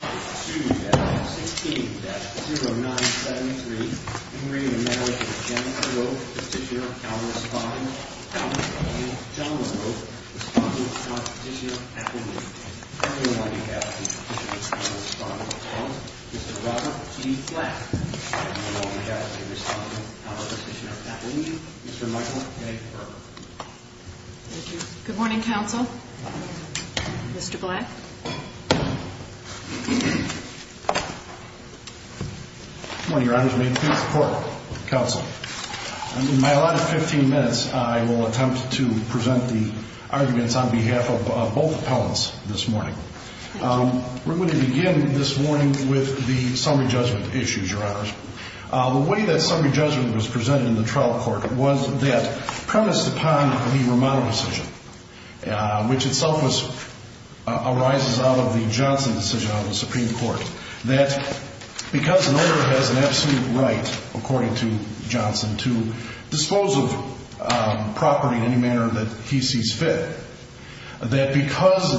Marriage of Jennifer Loeb, Petitioner of countries Fontaine Collier, John Loeb, Respondent of the unconstitutional appealing, and Priority of Tribal Equality Law Foundation president and law responder Mr Robert E Black dea? All the JURIES Good morning Counsel Mr Black Good morning Your Honors May it please the Court Counsel and in my last 15 min. I will attempt to present the arguments on behalf of both Your Honors. The way that summary judgment was presented in the trial court was that premised upon the Romano decision which itself arises out of the Johnson decision of the Supreme Court. That because an owner has an absolute right according to Johnson to dispose of property in any manner that he sees fit. That because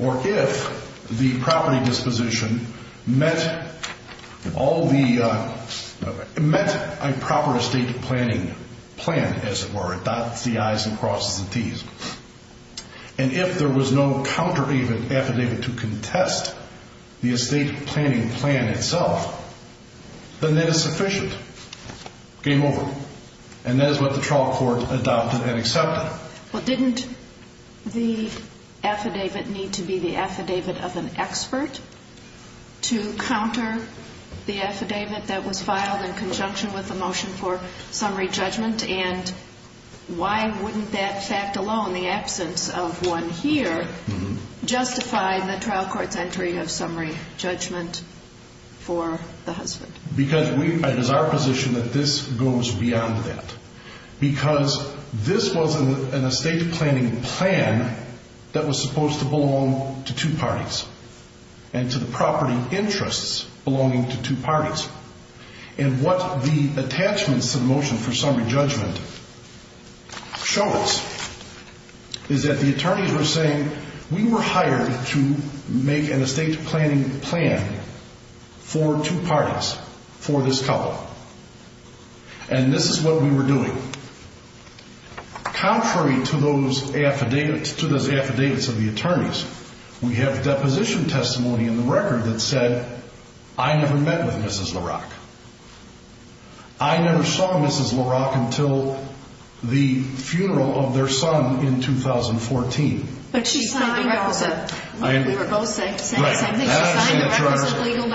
or if the property disposition met a proper estate planning plan as it were. And if there was no counter affidavit to contest the estate planning plan itself. Then that is sufficient. Game over. And that is what the trial court adopted and accepted. Well didn't the affidavit need to be the affidavit of an expert to counter the affidavit that was filed in conjunction with the motion for summary judgment? And why wouldn't that fact alone, the absence of one here, justify the trial court's entry of summary judgment for the husband? Because it is our position that this goes beyond that. Because this was an estate planning plan that was supposed to belong to two parties. And to the property interests belonging to two parties. And what the attachments to the motion for summary judgment show us is that the attorneys were saying we were hired to make an estate planning plan for two parties. For this couple. And this is what we were doing. Contrary to those affidavits of the attorneys. We have deposition testimony in the record that said I never met with Mrs. LaRock. I never saw Mrs. LaRock until the funeral of their son in 2014. But we were both saying the same thing. She signed the requisite legal documents.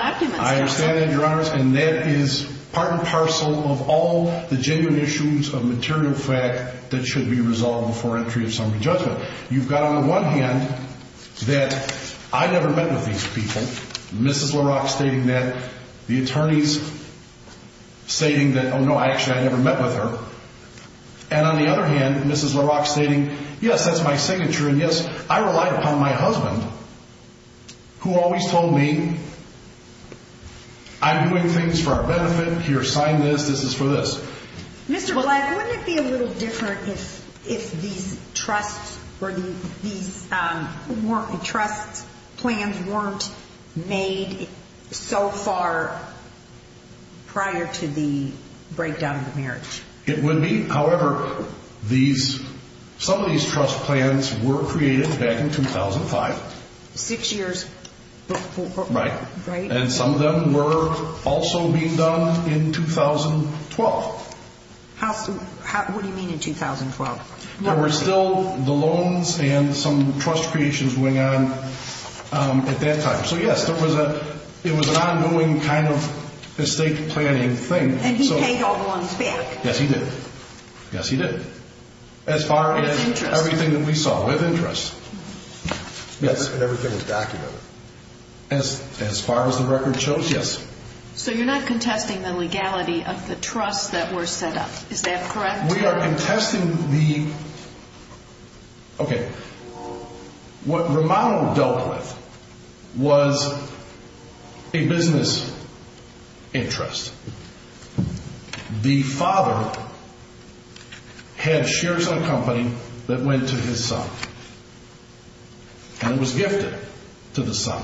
Mr. Black, wouldn't it be a little different if these trust plans weren't made so far prior to the breakdown of the marriage? It would be. However, some of these trust plans were created back in 2005. Six years before. Right. And some of them were also being done in 2012. What do you mean in 2012? There were still the loans and some trust creations going on at that time. So yes, it was an ongoing kind of estate planning thing. And he paid all the loans back. Yes, he did. Yes, he did. As far as everything that we saw with interest. And everything was documented. As far as the record shows, yes. So you're not contesting the legality of the trust that were set up. Is that correct? Okay. What Romano dealt with was a business interest. The father had shares in a company that went to his son. And it was gifted to the son.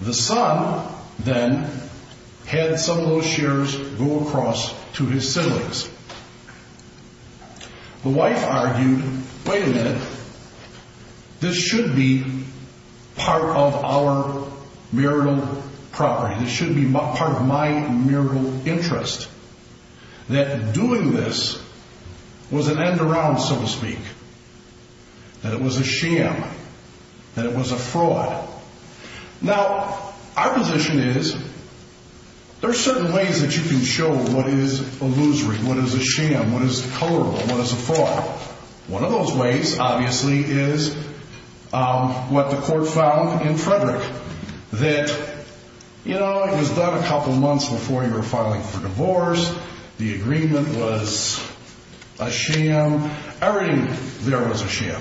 The son then had some of those shares go across to his siblings. The wife argued, wait a minute, this should be part of our marital property. This should be part of my marital interest. That doing this was an end around, so to speak. That it was a sham. That it was a fraud. Now, our position is, there are certain ways that you can show what is illusory, what is a sham, what is colorable, what is a fraud. One of those ways, obviously, is what the court found in Frederick. That, you know, it was done a couple months before you were filing for divorce. The agreement was a sham. Everything there was a sham.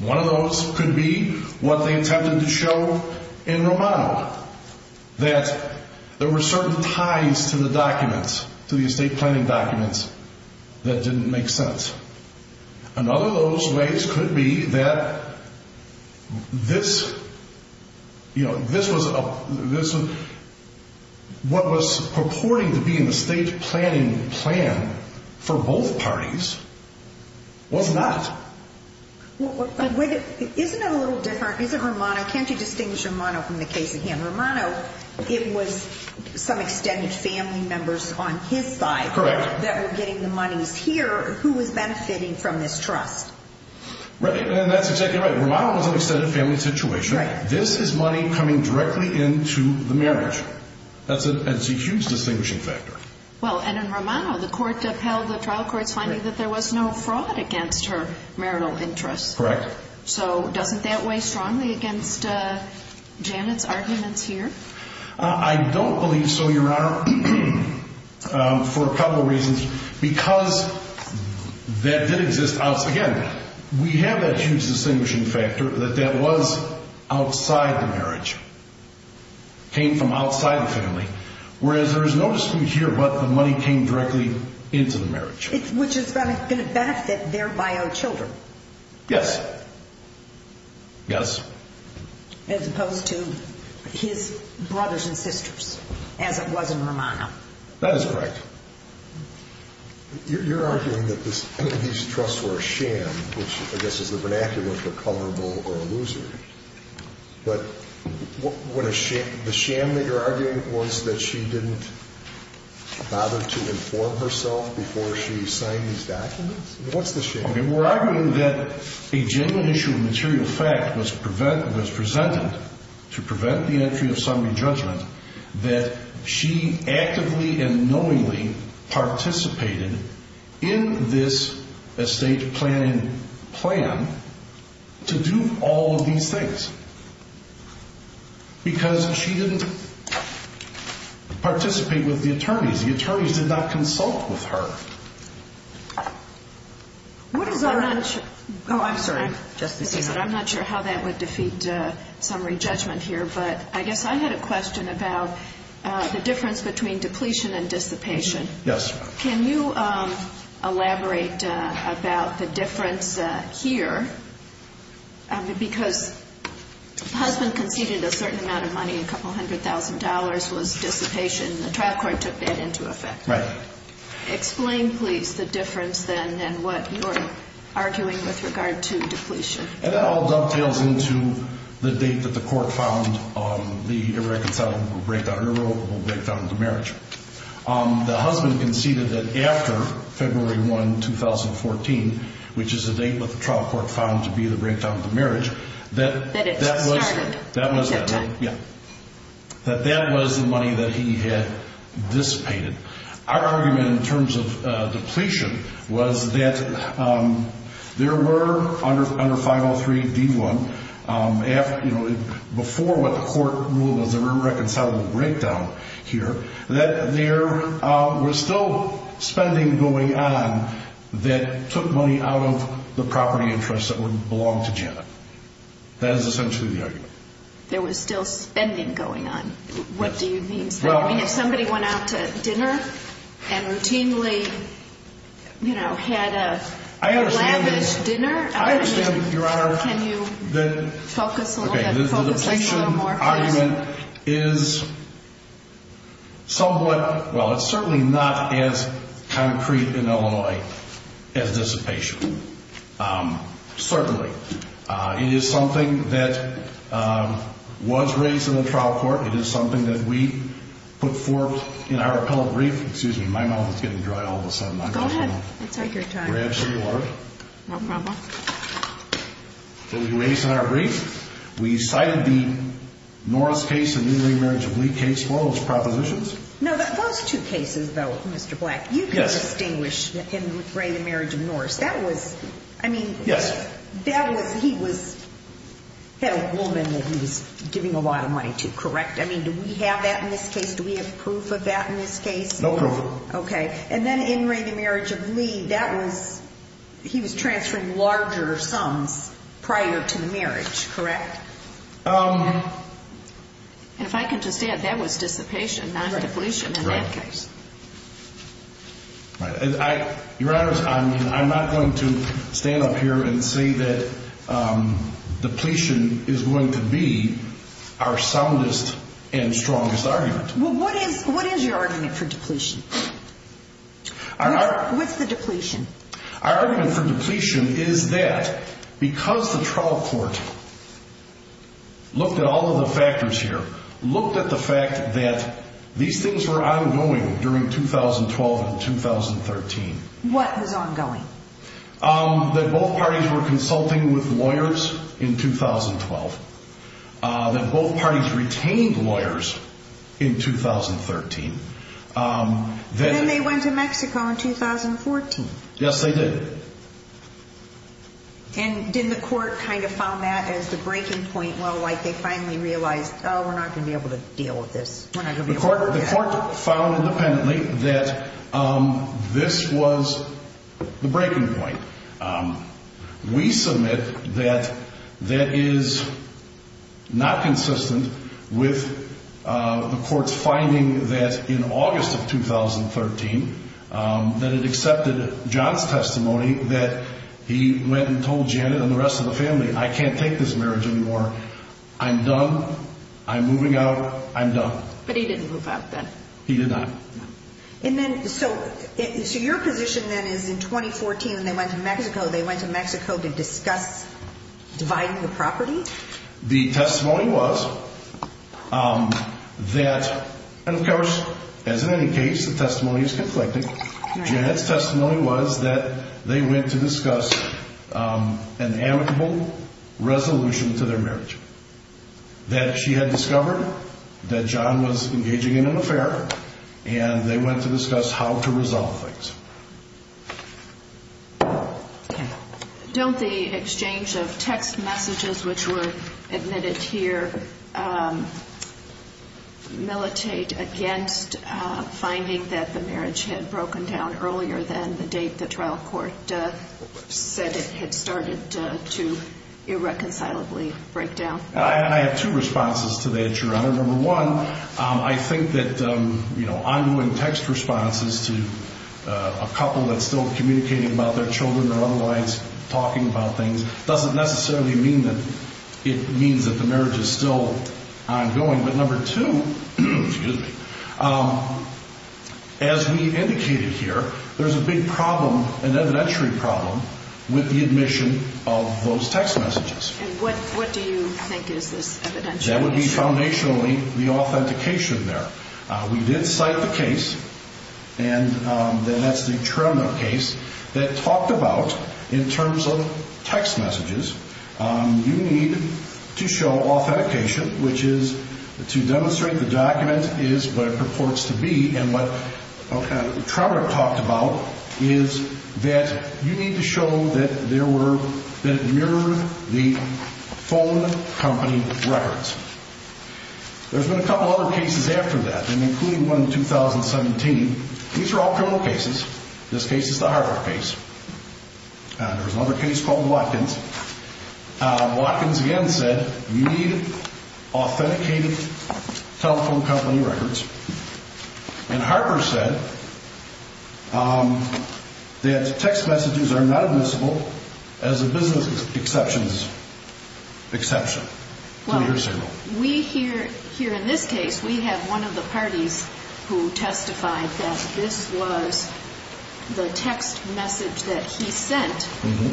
One of those could be what they attempted to show in Romano. That there were certain ties to the documents, to the estate planning documents, that didn't make sense. Another of those ways could be that this, you know, this was, what was purporting to be in the estate planning plan for both parties, was not. Isn't it a little different, isn't Romano, can't you distinguish Romano from the case of him? Romano, it was some extended family members on his side. Correct. That were getting the monies here, who was benefiting from this trust. Right, and that's exactly right. Romano was in an extended family situation. Right. This is money coming directly into the marriage. That's a huge distinguishing factor. Well, and in Romano, the court upheld the trial court's finding that there was no fraud against her marital interests. Correct. So, doesn't that weigh strongly against Janet's arguments here? I don't believe so, Your Honor, for a couple of reasons. Because that did exist, again, we have that huge distinguishing factor that that was outside the marriage. Came from outside the family. Whereas there is no dispute here, but the money came directly into the marriage. Which is going to benefit their bio children. Yes. Yes. As opposed to his brothers and sisters, as it was in Romano. That is correct. You're arguing that these trusts were a sham, which I guess is the vernacular for culpable or a loser. But the sham that you're arguing was that she didn't bother to inform herself before she signed these documents? What's the sham? We're arguing that a genuine issue of material fact was presented to prevent the entry of summary judgment. That she actively and knowingly participated in this estate planning plan to do all of these things. Because she didn't participate with the attorneys. The attorneys did not consult with her. I'm not sure how that would defeat summary judgment here. But I guess I had a question about the difference between depletion and dissipation. Yes. Can you elaborate about the difference here? Because the husband conceded a certain amount of money, a couple hundred thousand dollars was dissipation. The trial court took that into effect. Right. Explain, please, the difference then in what you're arguing with regard to depletion. That all dovetails into the date that the court found the irreconcilable breakdown, irrevocable breakdown of the marriage. The husband conceded that after February 1, 2014, which is the date that the trial court found to be the breakdown of the marriage. That it started at that time. Yeah. That that was the money that he had dissipated. Our argument in terms of depletion was that there were, under 503D1, before what the court ruled as an irreconcilable breakdown here, that there was still spending going on that took money out of the property interest that would belong to Janet. That is essentially the argument. There was still spending going on. Yes. What do you mean spending? I mean, if somebody went out to dinner and routinely, you know, had a lavish dinner. I understand, Your Honor. Can you focus a little bit, focus us a little more, please? Okay. The depletion argument is somewhat, well, it's certainly not as concrete in Illinois as dissipation. Certainly. It is something that was raised in the trial court. It is something that we put forth in our appellate brief. Excuse me. My mouth is getting dry all of a sudden. Go ahead. Let's take your time. Can I grab some water? No problem. It was raised in our brief. We cited the Norris case, the new ring marriage of Lee case. What were those propositions? No, those two cases, though, Mr. Black. Yes. You could distinguish him with Ray, the marriage of Norris. That was, I mean, that was, he was, had a woman that he was giving a lot of money to, correct? I mean, do we have that in this case? Do we have proof of that in this case? No proof. Okay. And then in Ray, the marriage of Lee, that was, he was transferring larger sums prior to the marriage, correct? If I can just add, that was dissipation, not depletion in that case. Right. Your Honor, I'm not going to stand up here and say that depletion is going to be our soundest and strongest argument. Well, what is your argument for depletion? What's the depletion? Our argument for depletion is that because the trial court looked at all of the factors here, looked at the fact that these things were ongoing during 2012 and 2013. What was ongoing? That both parties were consulting with lawyers in 2012. That both parties retained lawyers in 2013. Then they went to Mexico in 2014. Yes, they did. And didn't the court kind of found that as the breaking point? Well, like they finally realized, oh, we're not going to be able to deal with this. The court found independently that this was the breaking point. We submit that that is not consistent with the court's finding that in August of 2013, that it accepted John's testimony that he went and told Janet and the rest of the family, I can't take this marriage anymore. I'm done. I'm moving out. I'm done. But he didn't move out then? He did not. So your position then is in 2014 when they went to Mexico, they went to Mexico to discuss dividing the property? The testimony was that, as in any case, the testimony is conflicting. Janet's testimony was that they went to discuss an amicable resolution to their marriage. That she had discovered that John was engaging in an affair, and they went to discuss how to resolve things. Don't the exchange of text messages which were admitted here militate against finding that the marriage had broken down earlier than the date the trial court said it had started to irreconcilably break down? I have two responses to that, Your Honor. Number one, I think that ongoing text responses to a couple that's still communicating about their children or otherwise talking about things doesn't necessarily mean that it means that the marriage is still ongoing. But number two, as we indicated here, there's a big problem, an evidentiary problem, with the admission of those text messages. And what do you think is this evidentiary issue? That would be foundationally the authentication there. We did cite the case, and that's the Tremna case, that talked about, in terms of text messages, you need to show authentication, which is to demonstrate the document is what it purports to be. And what Tremna talked about is that you need to show that it mirrored the phone company records. There's been a couple other cases after that, including one in 2017. These are all criminal cases. This case is the Harvard case. There's another case called Watkins. Watkins, again, said you need authenticated telephone company records. And Harper said that text messages are not admissible as a business exception to your signal. Here in this case, we have one of the parties who testified that this was the text message that he sent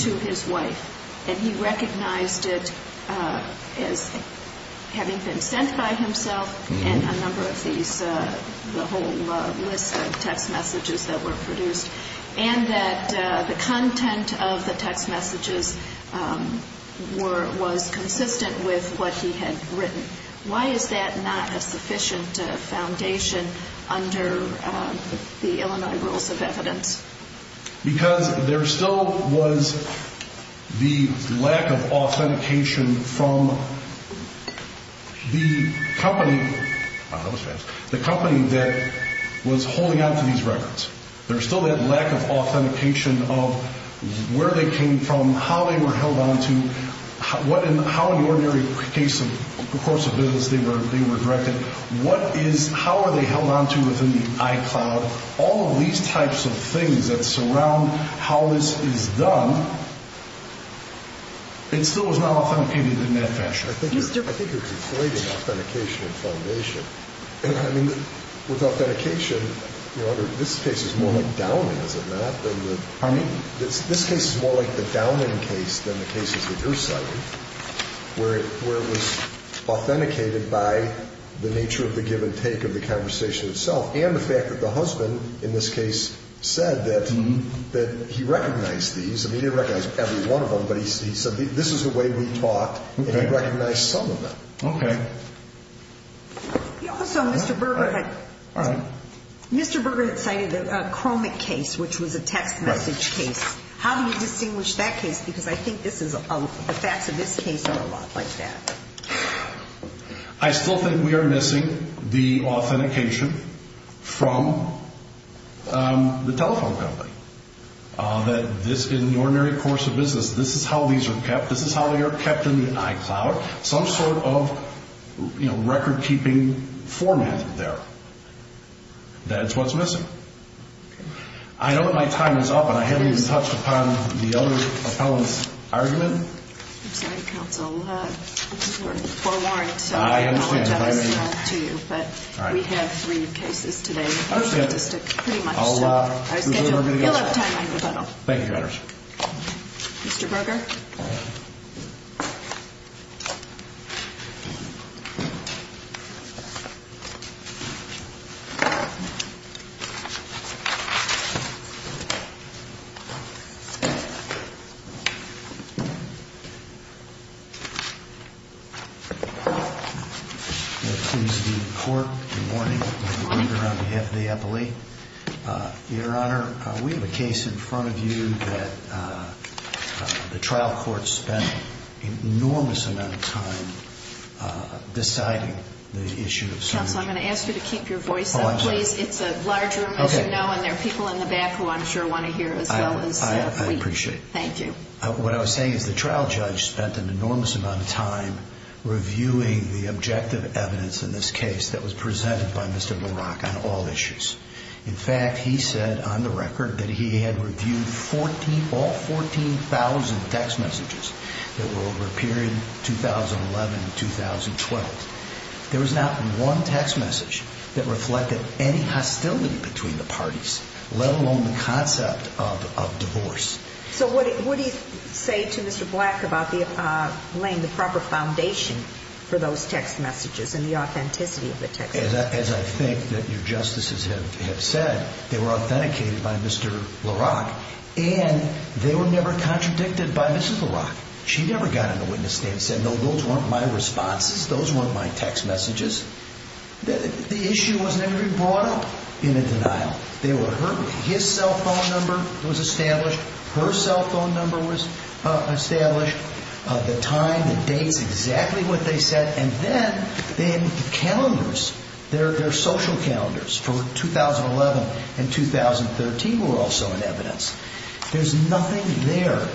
to his wife, and he recognized it as having been sent by himself and a number of these, the whole list of text messages that were produced, and that the content of the text messages was consistent with what he had written. Why is that not a sufficient foundation under the Illinois Rules of Evidence? Because there still was the lack of authentication from the company that was holding onto these records. There's still that lack of authentication of where they came from, how they were held onto, how in the ordinary course of business they were directed, how are they held onto within the iCloud, all of these types of things that surround how this is done, it still is not authenticated in that fashion. I think you're conflating authentication and foundation. I mean, with authentication, this case is more like downing, is it not? This case is more like the downing case than the cases that you're citing, where it was authenticated by the nature of the give and take of the conversation itself and the fact that the husband, in this case, said that he recognized these. I mean, he didn't recognize every one of them, but he said this is the way we talked, and he recognized some of them. Okay. Also, Mr. Berger had cited a chromic case, which was a text message case. How do you distinguish that case? Because I think the facts of this case are a lot like that. I still think we are missing the authentication from the telephone company, that this, in the ordinary course of business, this is how these are kept, this is how they are kept in the iCloud, some sort of record-keeping format there. That's what's missing. Okay. I know that my time is up, and I haven't even touched upon the other appellant's argument. I'm sorry, counsel. We're forewarned. I understand. I don't want to tell this to you, but we have three cases today. I understand. Pretty much. I'll schedule. You'll have time. Thank you, Your Honors. Mr. Berger? All right. I'm here on behalf of the appellee. Your Honor, we have a case in front of you that the trial court spent an enormous amount of time deciding the issue of search. Counsel, I'm going to ask you to keep your voice up, please. It's a large room, as you know, and there are people in the back who I'm sure want to hear as well as we. I appreciate it. Thank you. What I was saying is the trial judge spent an enormous amount of time reviewing the objective evidence in this case that was presented by Mr. Barak on all issues. In fact, he said on the record that he had reviewed all 14,000 text messages that were over a period 2011 to 2012. There was not one text message that reflected any hostility between the parties, let alone the concept of divorce. So what do you say to Mr. Black about laying the proper foundation for those text messages and the authenticity of the text messages? As I think that your Justices have said, they were authenticated by Mr. Barak, and they were never contradicted by Mrs. Barak. She never got in the witness stand and said, no, those weren't my responses. Those weren't my text messages. The issue was never even brought up in a denial. They were heard. His cell phone number was established. Her cell phone number was established. The time, the dates, exactly what they said. And then the calendars, their social calendars for 2011 and 2013 were also in evidence. There's nothing there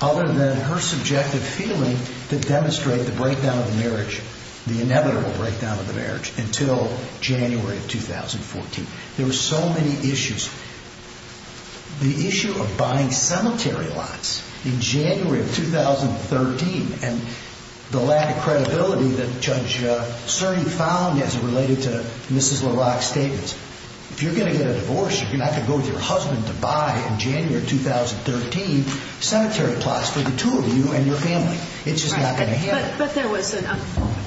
other than her subjective feeling to demonstrate the breakdown of the marriage, the inevitable breakdown of the marriage until January of 2014. There were so many issues. The issue of buying cemetery lots in January of 2013 and the lack of credibility that Judge Cerny found as it related to Mrs. Barak's statements. If you're going to get a divorce, you're not going to go with your husband to buy, in January of 2013, cemetery plots for the two of you and your family. It's just not going to happen. But there was a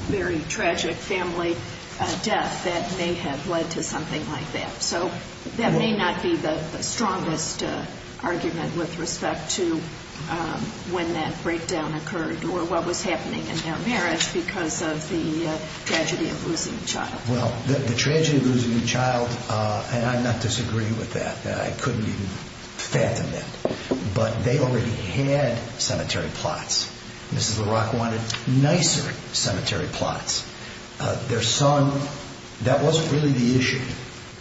very tragic family death that may have led to something like that. So that may not be the strongest argument with respect to when that breakdown occurred or what was happening in their marriage because of the tragedy of losing a child. Well, the tragedy of losing a child, and I'm not disagreeing with that. I couldn't even fathom that. But they already had cemetery plots. Mrs. Barak wanted nicer cemetery plots. Their son, that wasn't really the issue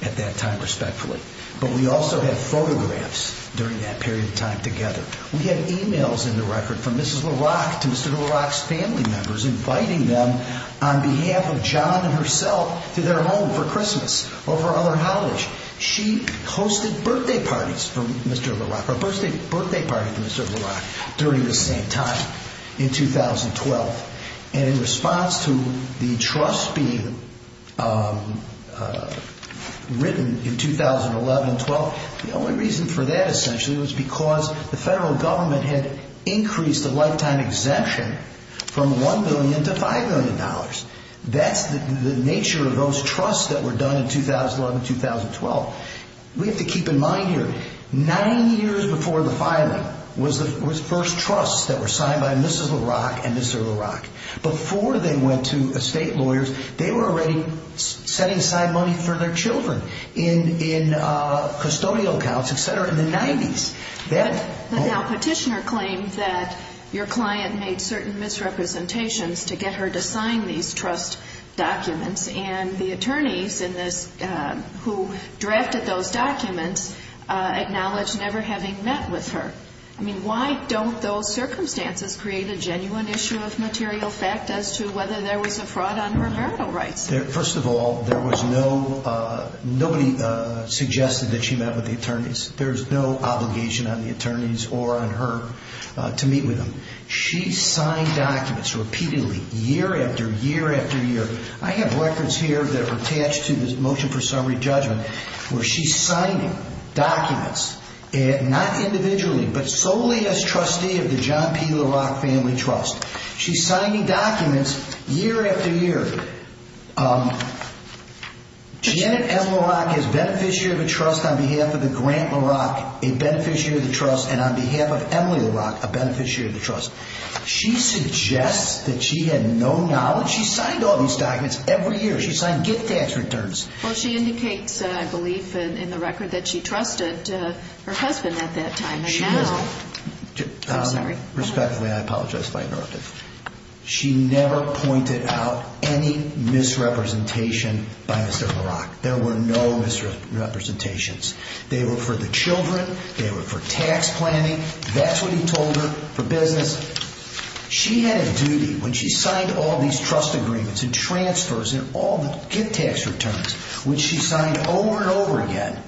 at that time, respectfully. But we also had photographs during that period of time together. We had e-mails in the record from Mrs. Barak to Mr. Barak's family members inviting them on behalf of John and herself to their home for Christmas or for other holidays. She hosted birthday parties for Mr. Barak during this same time in 2012. And in response to the trust being written in 2011-12, the only reason for that essentially was because the federal government had increased the lifetime exemption from $1 million to $5 million. That's the nature of those trusts that were done in 2011-12. We have to keep in mind here, nine years before the filing was the first trusts that were signed by Mrs. Barak and Mr. Barak. Before they went to estate lawyers, they were already setting aside money for their children in custodial accounts, et cetera, in the 90s. But now Petitioner claims that your client made certain misrepresentations to get her to sign these trust documents, and the attorneys who drafted those documents acknowledge never having met with her. I mean, why don't those circumstances create a genuine issue of material fact as to whether there was a fraud on her marital rights? First of all, nobody suggested that she met with the attorneys. There's no obligation on the attorneys or on her to meet with them. She signed documents repeatedly year after year after year. I have records here that are attached to this motion for summary judgment where she's signing documents, not individually, but solely as trustee of the John P. LaRocque Family Trust. She's signing documents year after year. Janet M. LaRocque is beneficiary of a trust on behalf of the Grant LaRocque, a beneficiary of the trust, and on behalf of Emily LaRocque, a beneficiary of the trust. She suggests that she had no knowledge. She signed all these documents every year. She signed gift tax returns. Well, she indicates, I believe, in the record that she trusted her husband at that time. I'm sorry. Respectfully, I apologize if I interrupted. She never pointed out any misrepresentation by Mr. LaRocque. There were no misrepresentations. They were for the children. They were for tax planning. That's what he told her, for business. She had a duty when she signed all these trust agreements and transfers and all the gift tax returns, which she signed over and over again,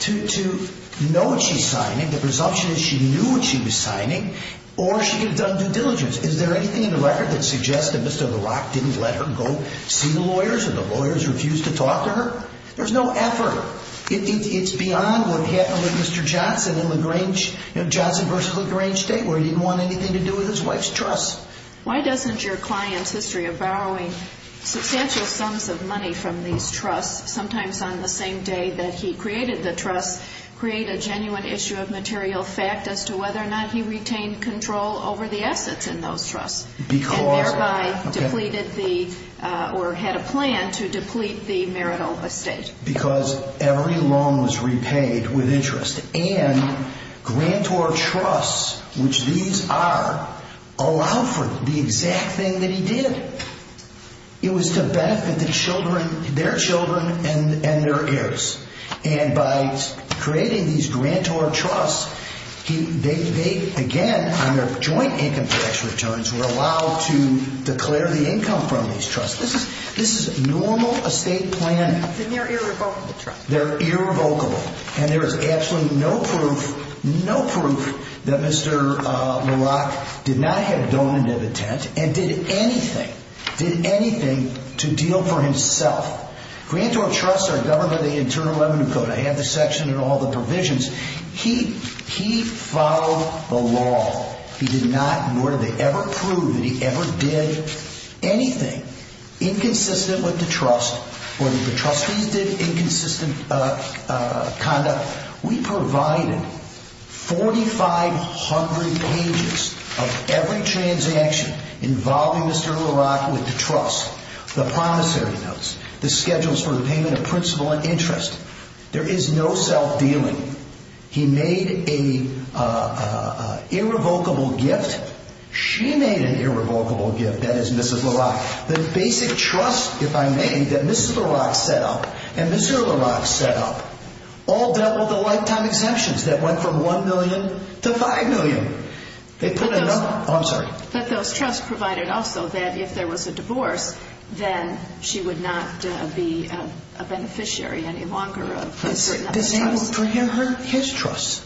to know what she's signing. The presumption is she knew what she was signing, or she could have done due diligence. Is there anything in the record that suggests that Mr. LaRocque didn't let her go see the lawyers or the lawyers refused to talk to her? There's no effort. It's beyond what happened with Mr. Johnson in Johnson v. LaGrange State, where he didn't want anything to do with his wife's trust. Why doesn't your client's history of borrowing substantial sums of money from these trusts, sometimes on the same day that he created the trust, create a genuine issue of material fact as to whether or not he retained control over the assets in those trusts? And thereby had a plan to deplete the marital estate. Because every loan was repaid with interest. And grantor trusts, which these are, allow for the exact thing that he did. It was to benefit their children and their heirs. And by creating these grantor trusts, they, again, on their joint income tax returns, were allowed to declare the income from these trusts. This is a normal estate plan. And they're irrevocable trusts. They're irrevocable. And there is absolutely no proof, no proof that Mr. LaRocque did not have donative intent and did anything, did anything to deal for himself. Grantor trusts are governed by the Internal Revenue Code. I have the section and all the provisions. He followed the law. He did not, nor did they ever prove that he ever did anything inconsistent with the trust or that the trustees did inconsistent conduct. We provided 4,500 pages of every transaction involving Mr. LaRocque with the trust, the promissory notes, the schedules for the payment of principal and interest. There is no self-dealing. He made an irrevocable gift. She made an irrevocable gift. That is Mrs. LaRocque. The basic trust, if I may, that Mrs. LaRocque set up and Mr. LaRocque set up all doubled the lifetime exemptions that went from $1 million to $5 million. They put a number. Oh, I'm sorry. But those trusts provided also that if there was a divorce, then she would not be a beneficiary any longer of a certain number of trusts. For his trust,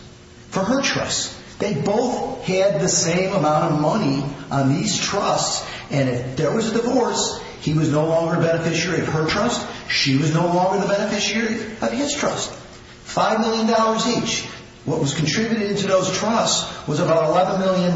for her trust. They both had the same amount of money on these trusts, and if there was a divorce, he was no longer a beneficiary of her trust. She was no longer the beneficiary of his trust. $5 million each. What was contributed to those trusts was about $11 million.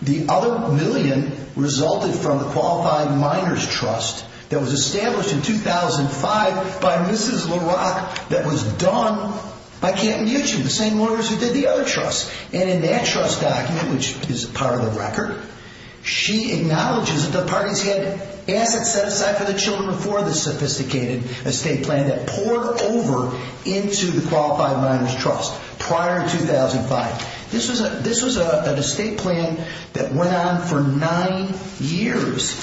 The other million resulted from the Qualified Minors Trust that was established in 2005 by Mrs. LaRocque that was done by Campton Mutual, the same lawyers who did the other trusts. In that trust document, which is part of the record, she acknowledges that the parties had assets set aside for the children before the sophisticated estate plan that poured over into the Qualified Minors Trust prior to 2005. This was an estate plan that went on for nine years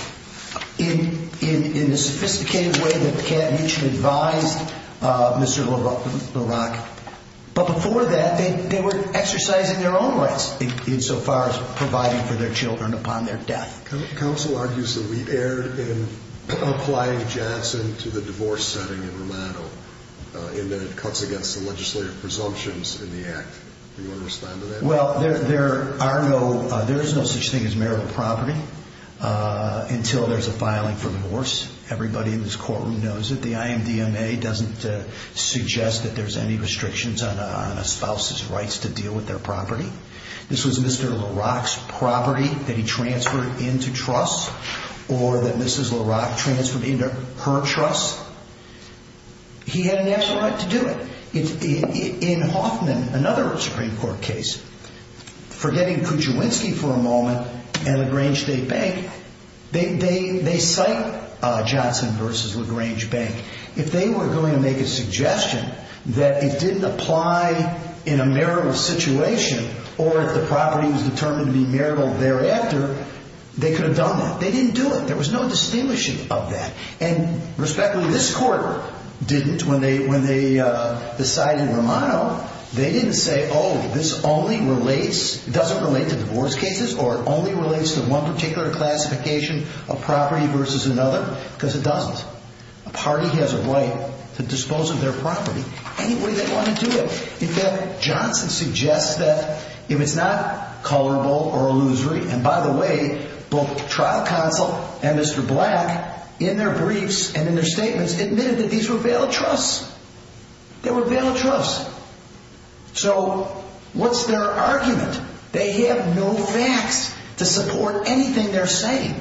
in the sophisticated way that Campton Mutual advised Mr. LaRocque. But before that, they were exercising their own rights insofar as providing for their children upon their death. Counsel argues that we erred in applying Johnson to the divorce setting in Romano in that it cuts against the legislative presumptions in the Act. Do you want to respond to that? Well, there is no such thing as marital property until there's a filing for divorce. Everybody in this courtroom knows it. The IMDMA doesn't suggest that there's any restrictions on a spouse's rights to deal with their property. This was Mr. LaRocque's property that he transferred into trusts or that Mrs. LaRocque transferred into her trusts. He had a natural right to do it. In Hoffman, another Supreme Court case, forgetting Kuczynski for a moment and LaGrange State Bank, they cite Johnson versus LaGrange Bank. If they were going to make a suggestion that it didn't apply in a marital situation, or if the property was determined to be marital thereafter, they could have done that. They didn't do it. There was no distinguishing of that. And respectfully, this Court didn't when they decided Romano. They didn't say, oh, this only relates, doesn't relate to divorce cases or only relates to one particular classification of property versus another because it doesn't. A party has a right to dispose of their property any way they want to do it. In fact, Johnson suggests that if it's not colorable or illusory, and by the way, both trial counsel and Mr. Black in their briefs and in their statements admitted that these were valid trusts. They were valid trusts. So what's their argument? They have no facts to support anything they're saying.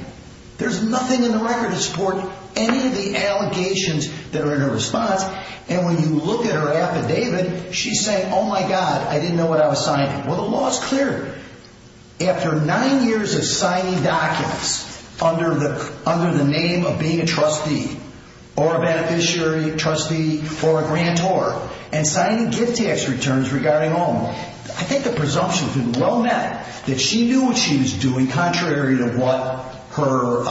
There's nothing in the record to support any of the allegations that are in her response. And when you look at her affidavit, she's saying, oh, my God, I didn't know what I was signing. Well, the law is clear. After nine years of signing documents under the name of being a trustee or a beneficiary trustee for a grantor and signing gift tax returns regarding home, I think the presumption has been well met that she knew what she was doing contrary to what her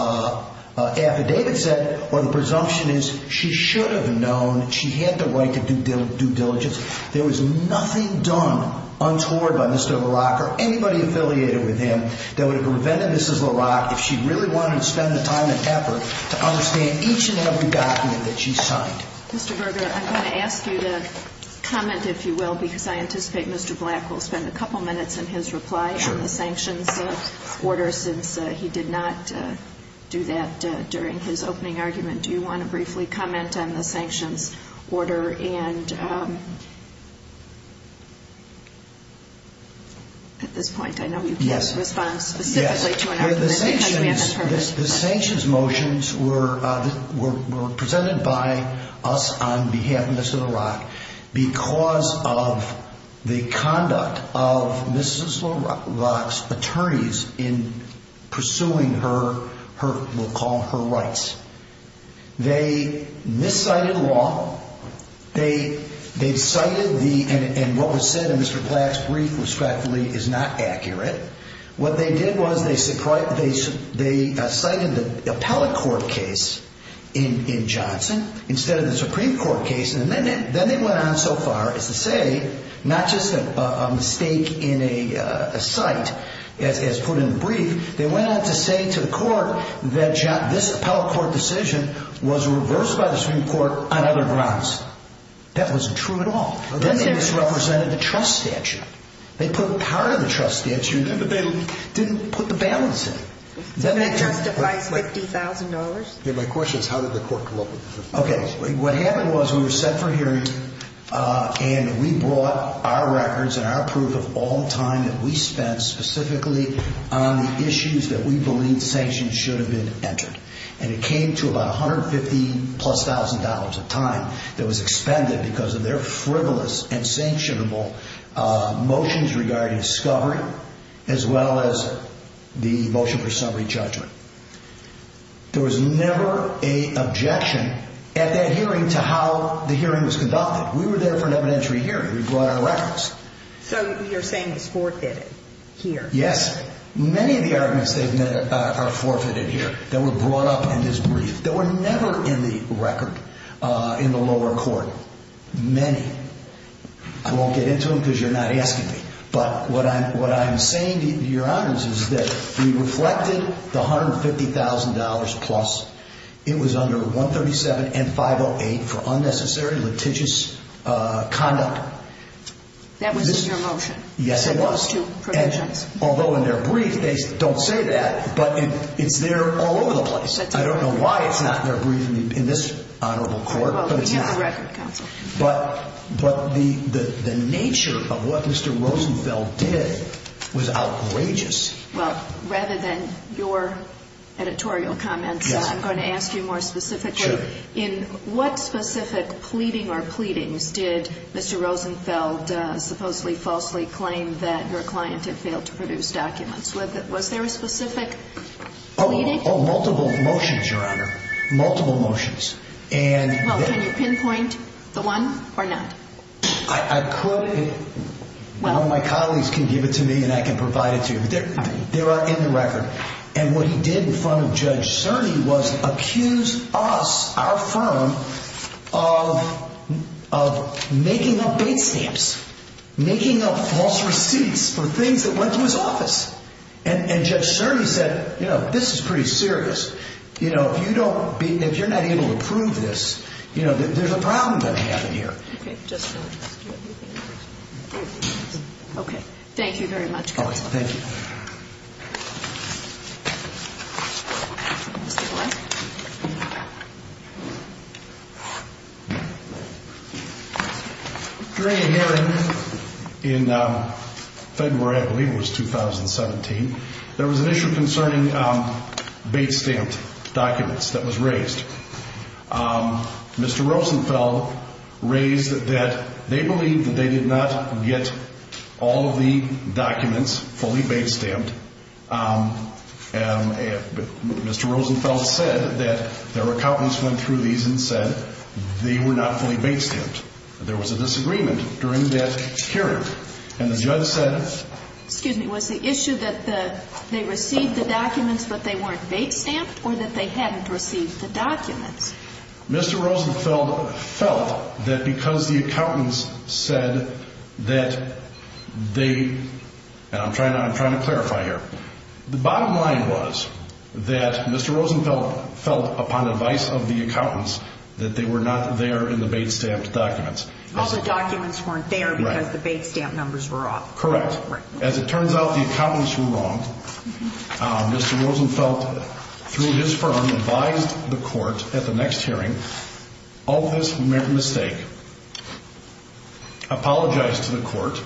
affidavit said. Or the presumption is she should have known she had the right to due diligence. There was nothing done untoward by Mr. Black or anybody affiliated with him that would have prevented Mrs. Black if she really wanted to spend the time and effort to understand each and every document that she signed. Mr. Berger, I'm going to ask you to comment, if you will, because I anticipate Mr. Black will spend a couple minutes in his reply on the sanctions order since he did not do that during his opening argument. Do you want to briefly comment on the sanctions order? And at this point, I know you can't respond specifically to an argument because we haven't heard it. The sanctions motions were presented by us on behalf of Mrs. LaRock because of the conduct of Mrs. LaRock's attorneys in pursuing her, we'll call her rights. They miscited law. They cited the, and what was said in Mr. Black's brief, respectfully, is not accurate. What they did was they cited the appellate court case in Johnson instead of the Supreme Court case and then they went on so far as to say not just a mistake in a cite as put in the brief, they went on to say to the court that this appellate court decision was reversed by the Supreme Court on other grounds. That wasn't true at all. Then they misrepresented the trust statute. They put part of the trust statute in, but they didn't put the balance in. So that justifies $50,000? Okay. What happened was we were set for hearing and we brought our records and our proof of all the time that we spent specifically on the issues that we believed sanctions should have been entered. And it came to about $150,000 plus of time that was expended because of their frivolous and sanctionable motions regarding discovery as well as the motion for summary judgment. There was never an objection at that hearing to how the hearing was conducted. We were there for an evidentiary hearing. We brought our records. So you're saying it's forfeited here? Yes. Many of the arguments they've made are forfeited here. They were brought up in this brief. They were never in the record in the lower court. Many. I won't get into them because you're not asking me. But what I'm saying to your honors is that we reflected the $150,000 plus. It was under 137 and 508 for unnecessary litigious conduct. That was in your motion? Yes, it was. So those two provisions. Although in their brief, they don't say that, but it's there all over the place. I don't know why it's not in their brief in this honorable court. Well, we have the record, counsel. But the nature of what Mr. Rosenfeld did was outrageous. Well, rather than your editorial comments, I'm going to ask you more specifically. Sure. In what specific pleading or pleadings did Mr. Rosenfeld supposedly falsely claim that your client had failed to produce documents with it? Was there a specific pleading? Multiple motions, your honor. Multiple motions. Well, can you pinpoint the one or not? I could. One of my colleagues can give it to me and I can provide it to you. But they are in the record. And what he did in front of Judge Cerny was accuse us, our firm, of making up bait stamps, making up false receipts for things that went to his office. And Judge Cerny said, you know, this is pretty serious. You know, if you're not able to prove this, you know, there's a problem going to happen here. Okay. Okay. Thank you very much, counsel. Thank you. During a hearing in February, I believe it was 2017, there was an issue concerning bait stamp documents that was raised. Mr. Rosenfeld raised that they believed that they did not get all of the documents fully bait stamped. Mr. Rosenfeld said that their accountants went through these and said they were not fully bait stamped. There was a disagreement during that hearing. And the judge said... Excuse me, was the issue that they received the documents but they weren't bait stamped or that they hadn't received the documents? Mr. Rosenfeld felt that because the accountants said that they... And I'm trying to clarify here. The bottom line was that Mr. Rosenfeld felt upon advice of the accountants that they were not there in the bait stamped documents. All the documents weren't there because the bait stamp numbers were off. Correct. As it turns out, the accountants were wrong. Mr. Rosenfeld, through his firm, advised the court at the next hearing, of this mistake, apologized to the court,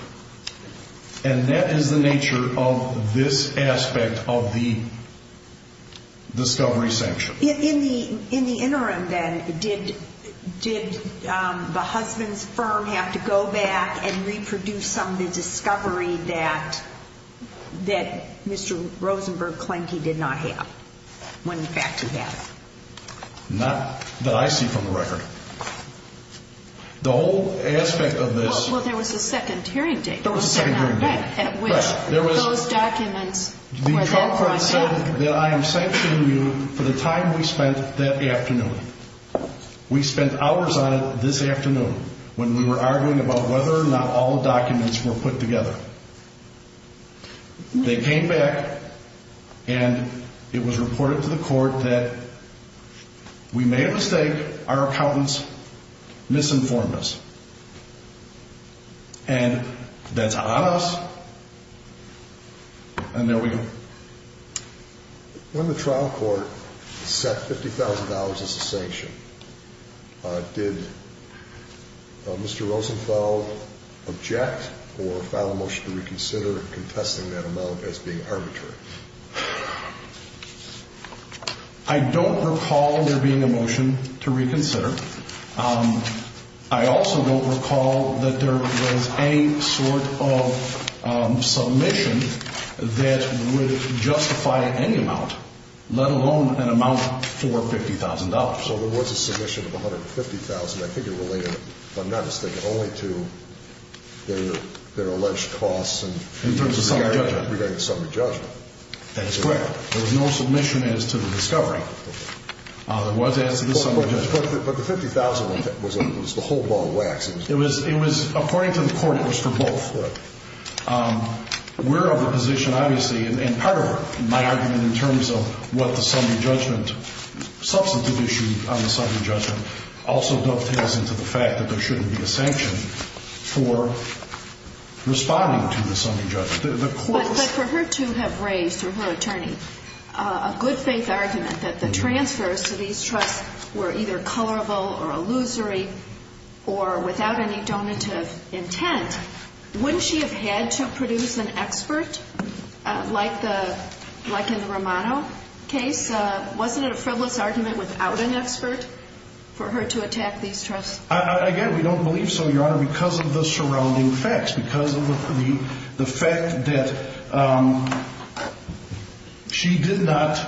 and that is the nature of this aspect of the discovery sanction. In the interim then, did the husband's firm have to go back and reproduce some of the discovery that Mr. Rosenfeld Klenke did not have, when in fact he had? Not that I see from the record. The whole aspect of this... Well, there was a second hearing date. At which those documents were then brought back. The trial court said that I am sanctioning you for the time we spent that afternoon. We spent hours on it this afternoon, when we were arguing about whether or not all the documents were put together. They came back, and it was reported to the court that we made a mistake. Our accountants misinformed us. And that's on us. And there we go. When the trial court set $50,000 as the sanction, did Mr. Rosenfeld object or file a motion to reconsider, contesting that amount as being arbitrary? I don't recall there being a motion to reconsider. I also don't recall that there was any sort of submission that would justify any amount, let alone an amount for $50,000. So there was a submission of $150,000. I think it related, if I'm not mistaken, only to their alleged costs and... In terms of summary judgment. Regarding summary judgment. That is correct. There was no submission as to the discovery. There was as to the summary judgment. But the $50,000 was the whole ball of wax. It was, according to the court, it was for both. We're of the position, obviously, and part of my argument in terms of what the summary judgment, substantive issue on the summary judgment, also dovetails into the fact that there shouldn't be a sanction for responding to the summary judgment. But for her to have raised, through her attorney, a good faith argument that the transfers to these trusts were either colorable or illusory or without any donative intent, wouldn't she have had to produce an expert, like in the Romano case? Wasn't it a frivolous argument without an expert for her to attack these trusts? Again, we don't believe so, Your Honor, because of the surrounding facts, because of the fact that she did not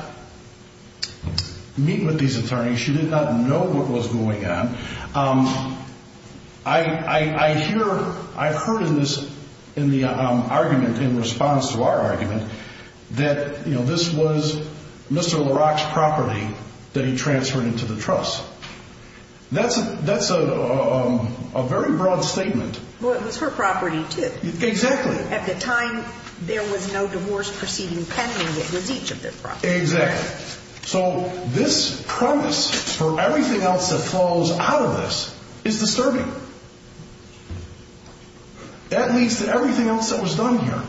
meet with these attorneys. She did not know what was going on. I hear, I've heard in the argument, in response to our argument, that this was Mr. LaRock's property that he transferred into the trust. That's a very broad statement. Well, it was her property, too. Exactly. At the time, there was no divorce proceeding pending. It was each of their properties. Exactly. So this premise for everything else that flows out of this is disturbing. That leads to everything else that was done here.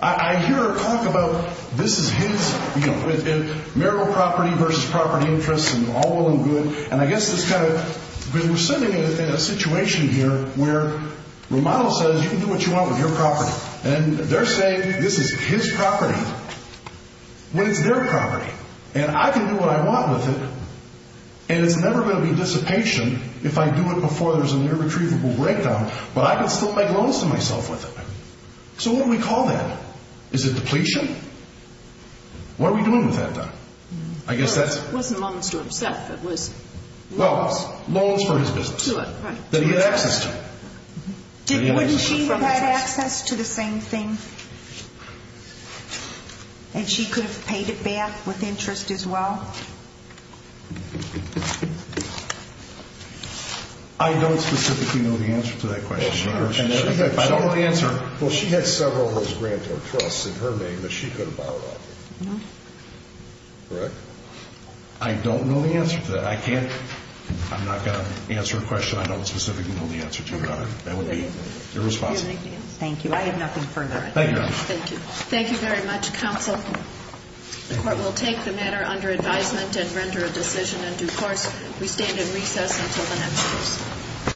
I hear her talk about this is his, you know, marital property versus property interests and all well and good, and I guess this kind of, we're sitting in a situation here where Romano says, you can do what you want with your property, and they're saying this is his property when it's their property, and I can do what I want with it, and it's never going to be dissipation if I do it before there's an irretrievable breakdown, but I can still make loans to myself with it. So what do we call that? Is it depletion? What are we doing with that? It wasn't loans to himself. It was loans. Loans for his business that he had access to. Wouldn't she have had access to the same thing, and she could have paid it back with interest as well? I don't specifically know the answer to that question. I don't know the answer. Well, she had several of those grantor trusts in her name that she could have borrowed off of. No. Correct? I don't know the answer to that. I can't. I'm not going to answer a question I don't specifically know the answer to, Your Honor. That would be irresponsible. Thank you. I have nothing further. Thank you, Your Honor. Thank you. Thank you very much, Counsel. The Court will take the matter under advisement and render a decision in due course. We stand in recess until the next case.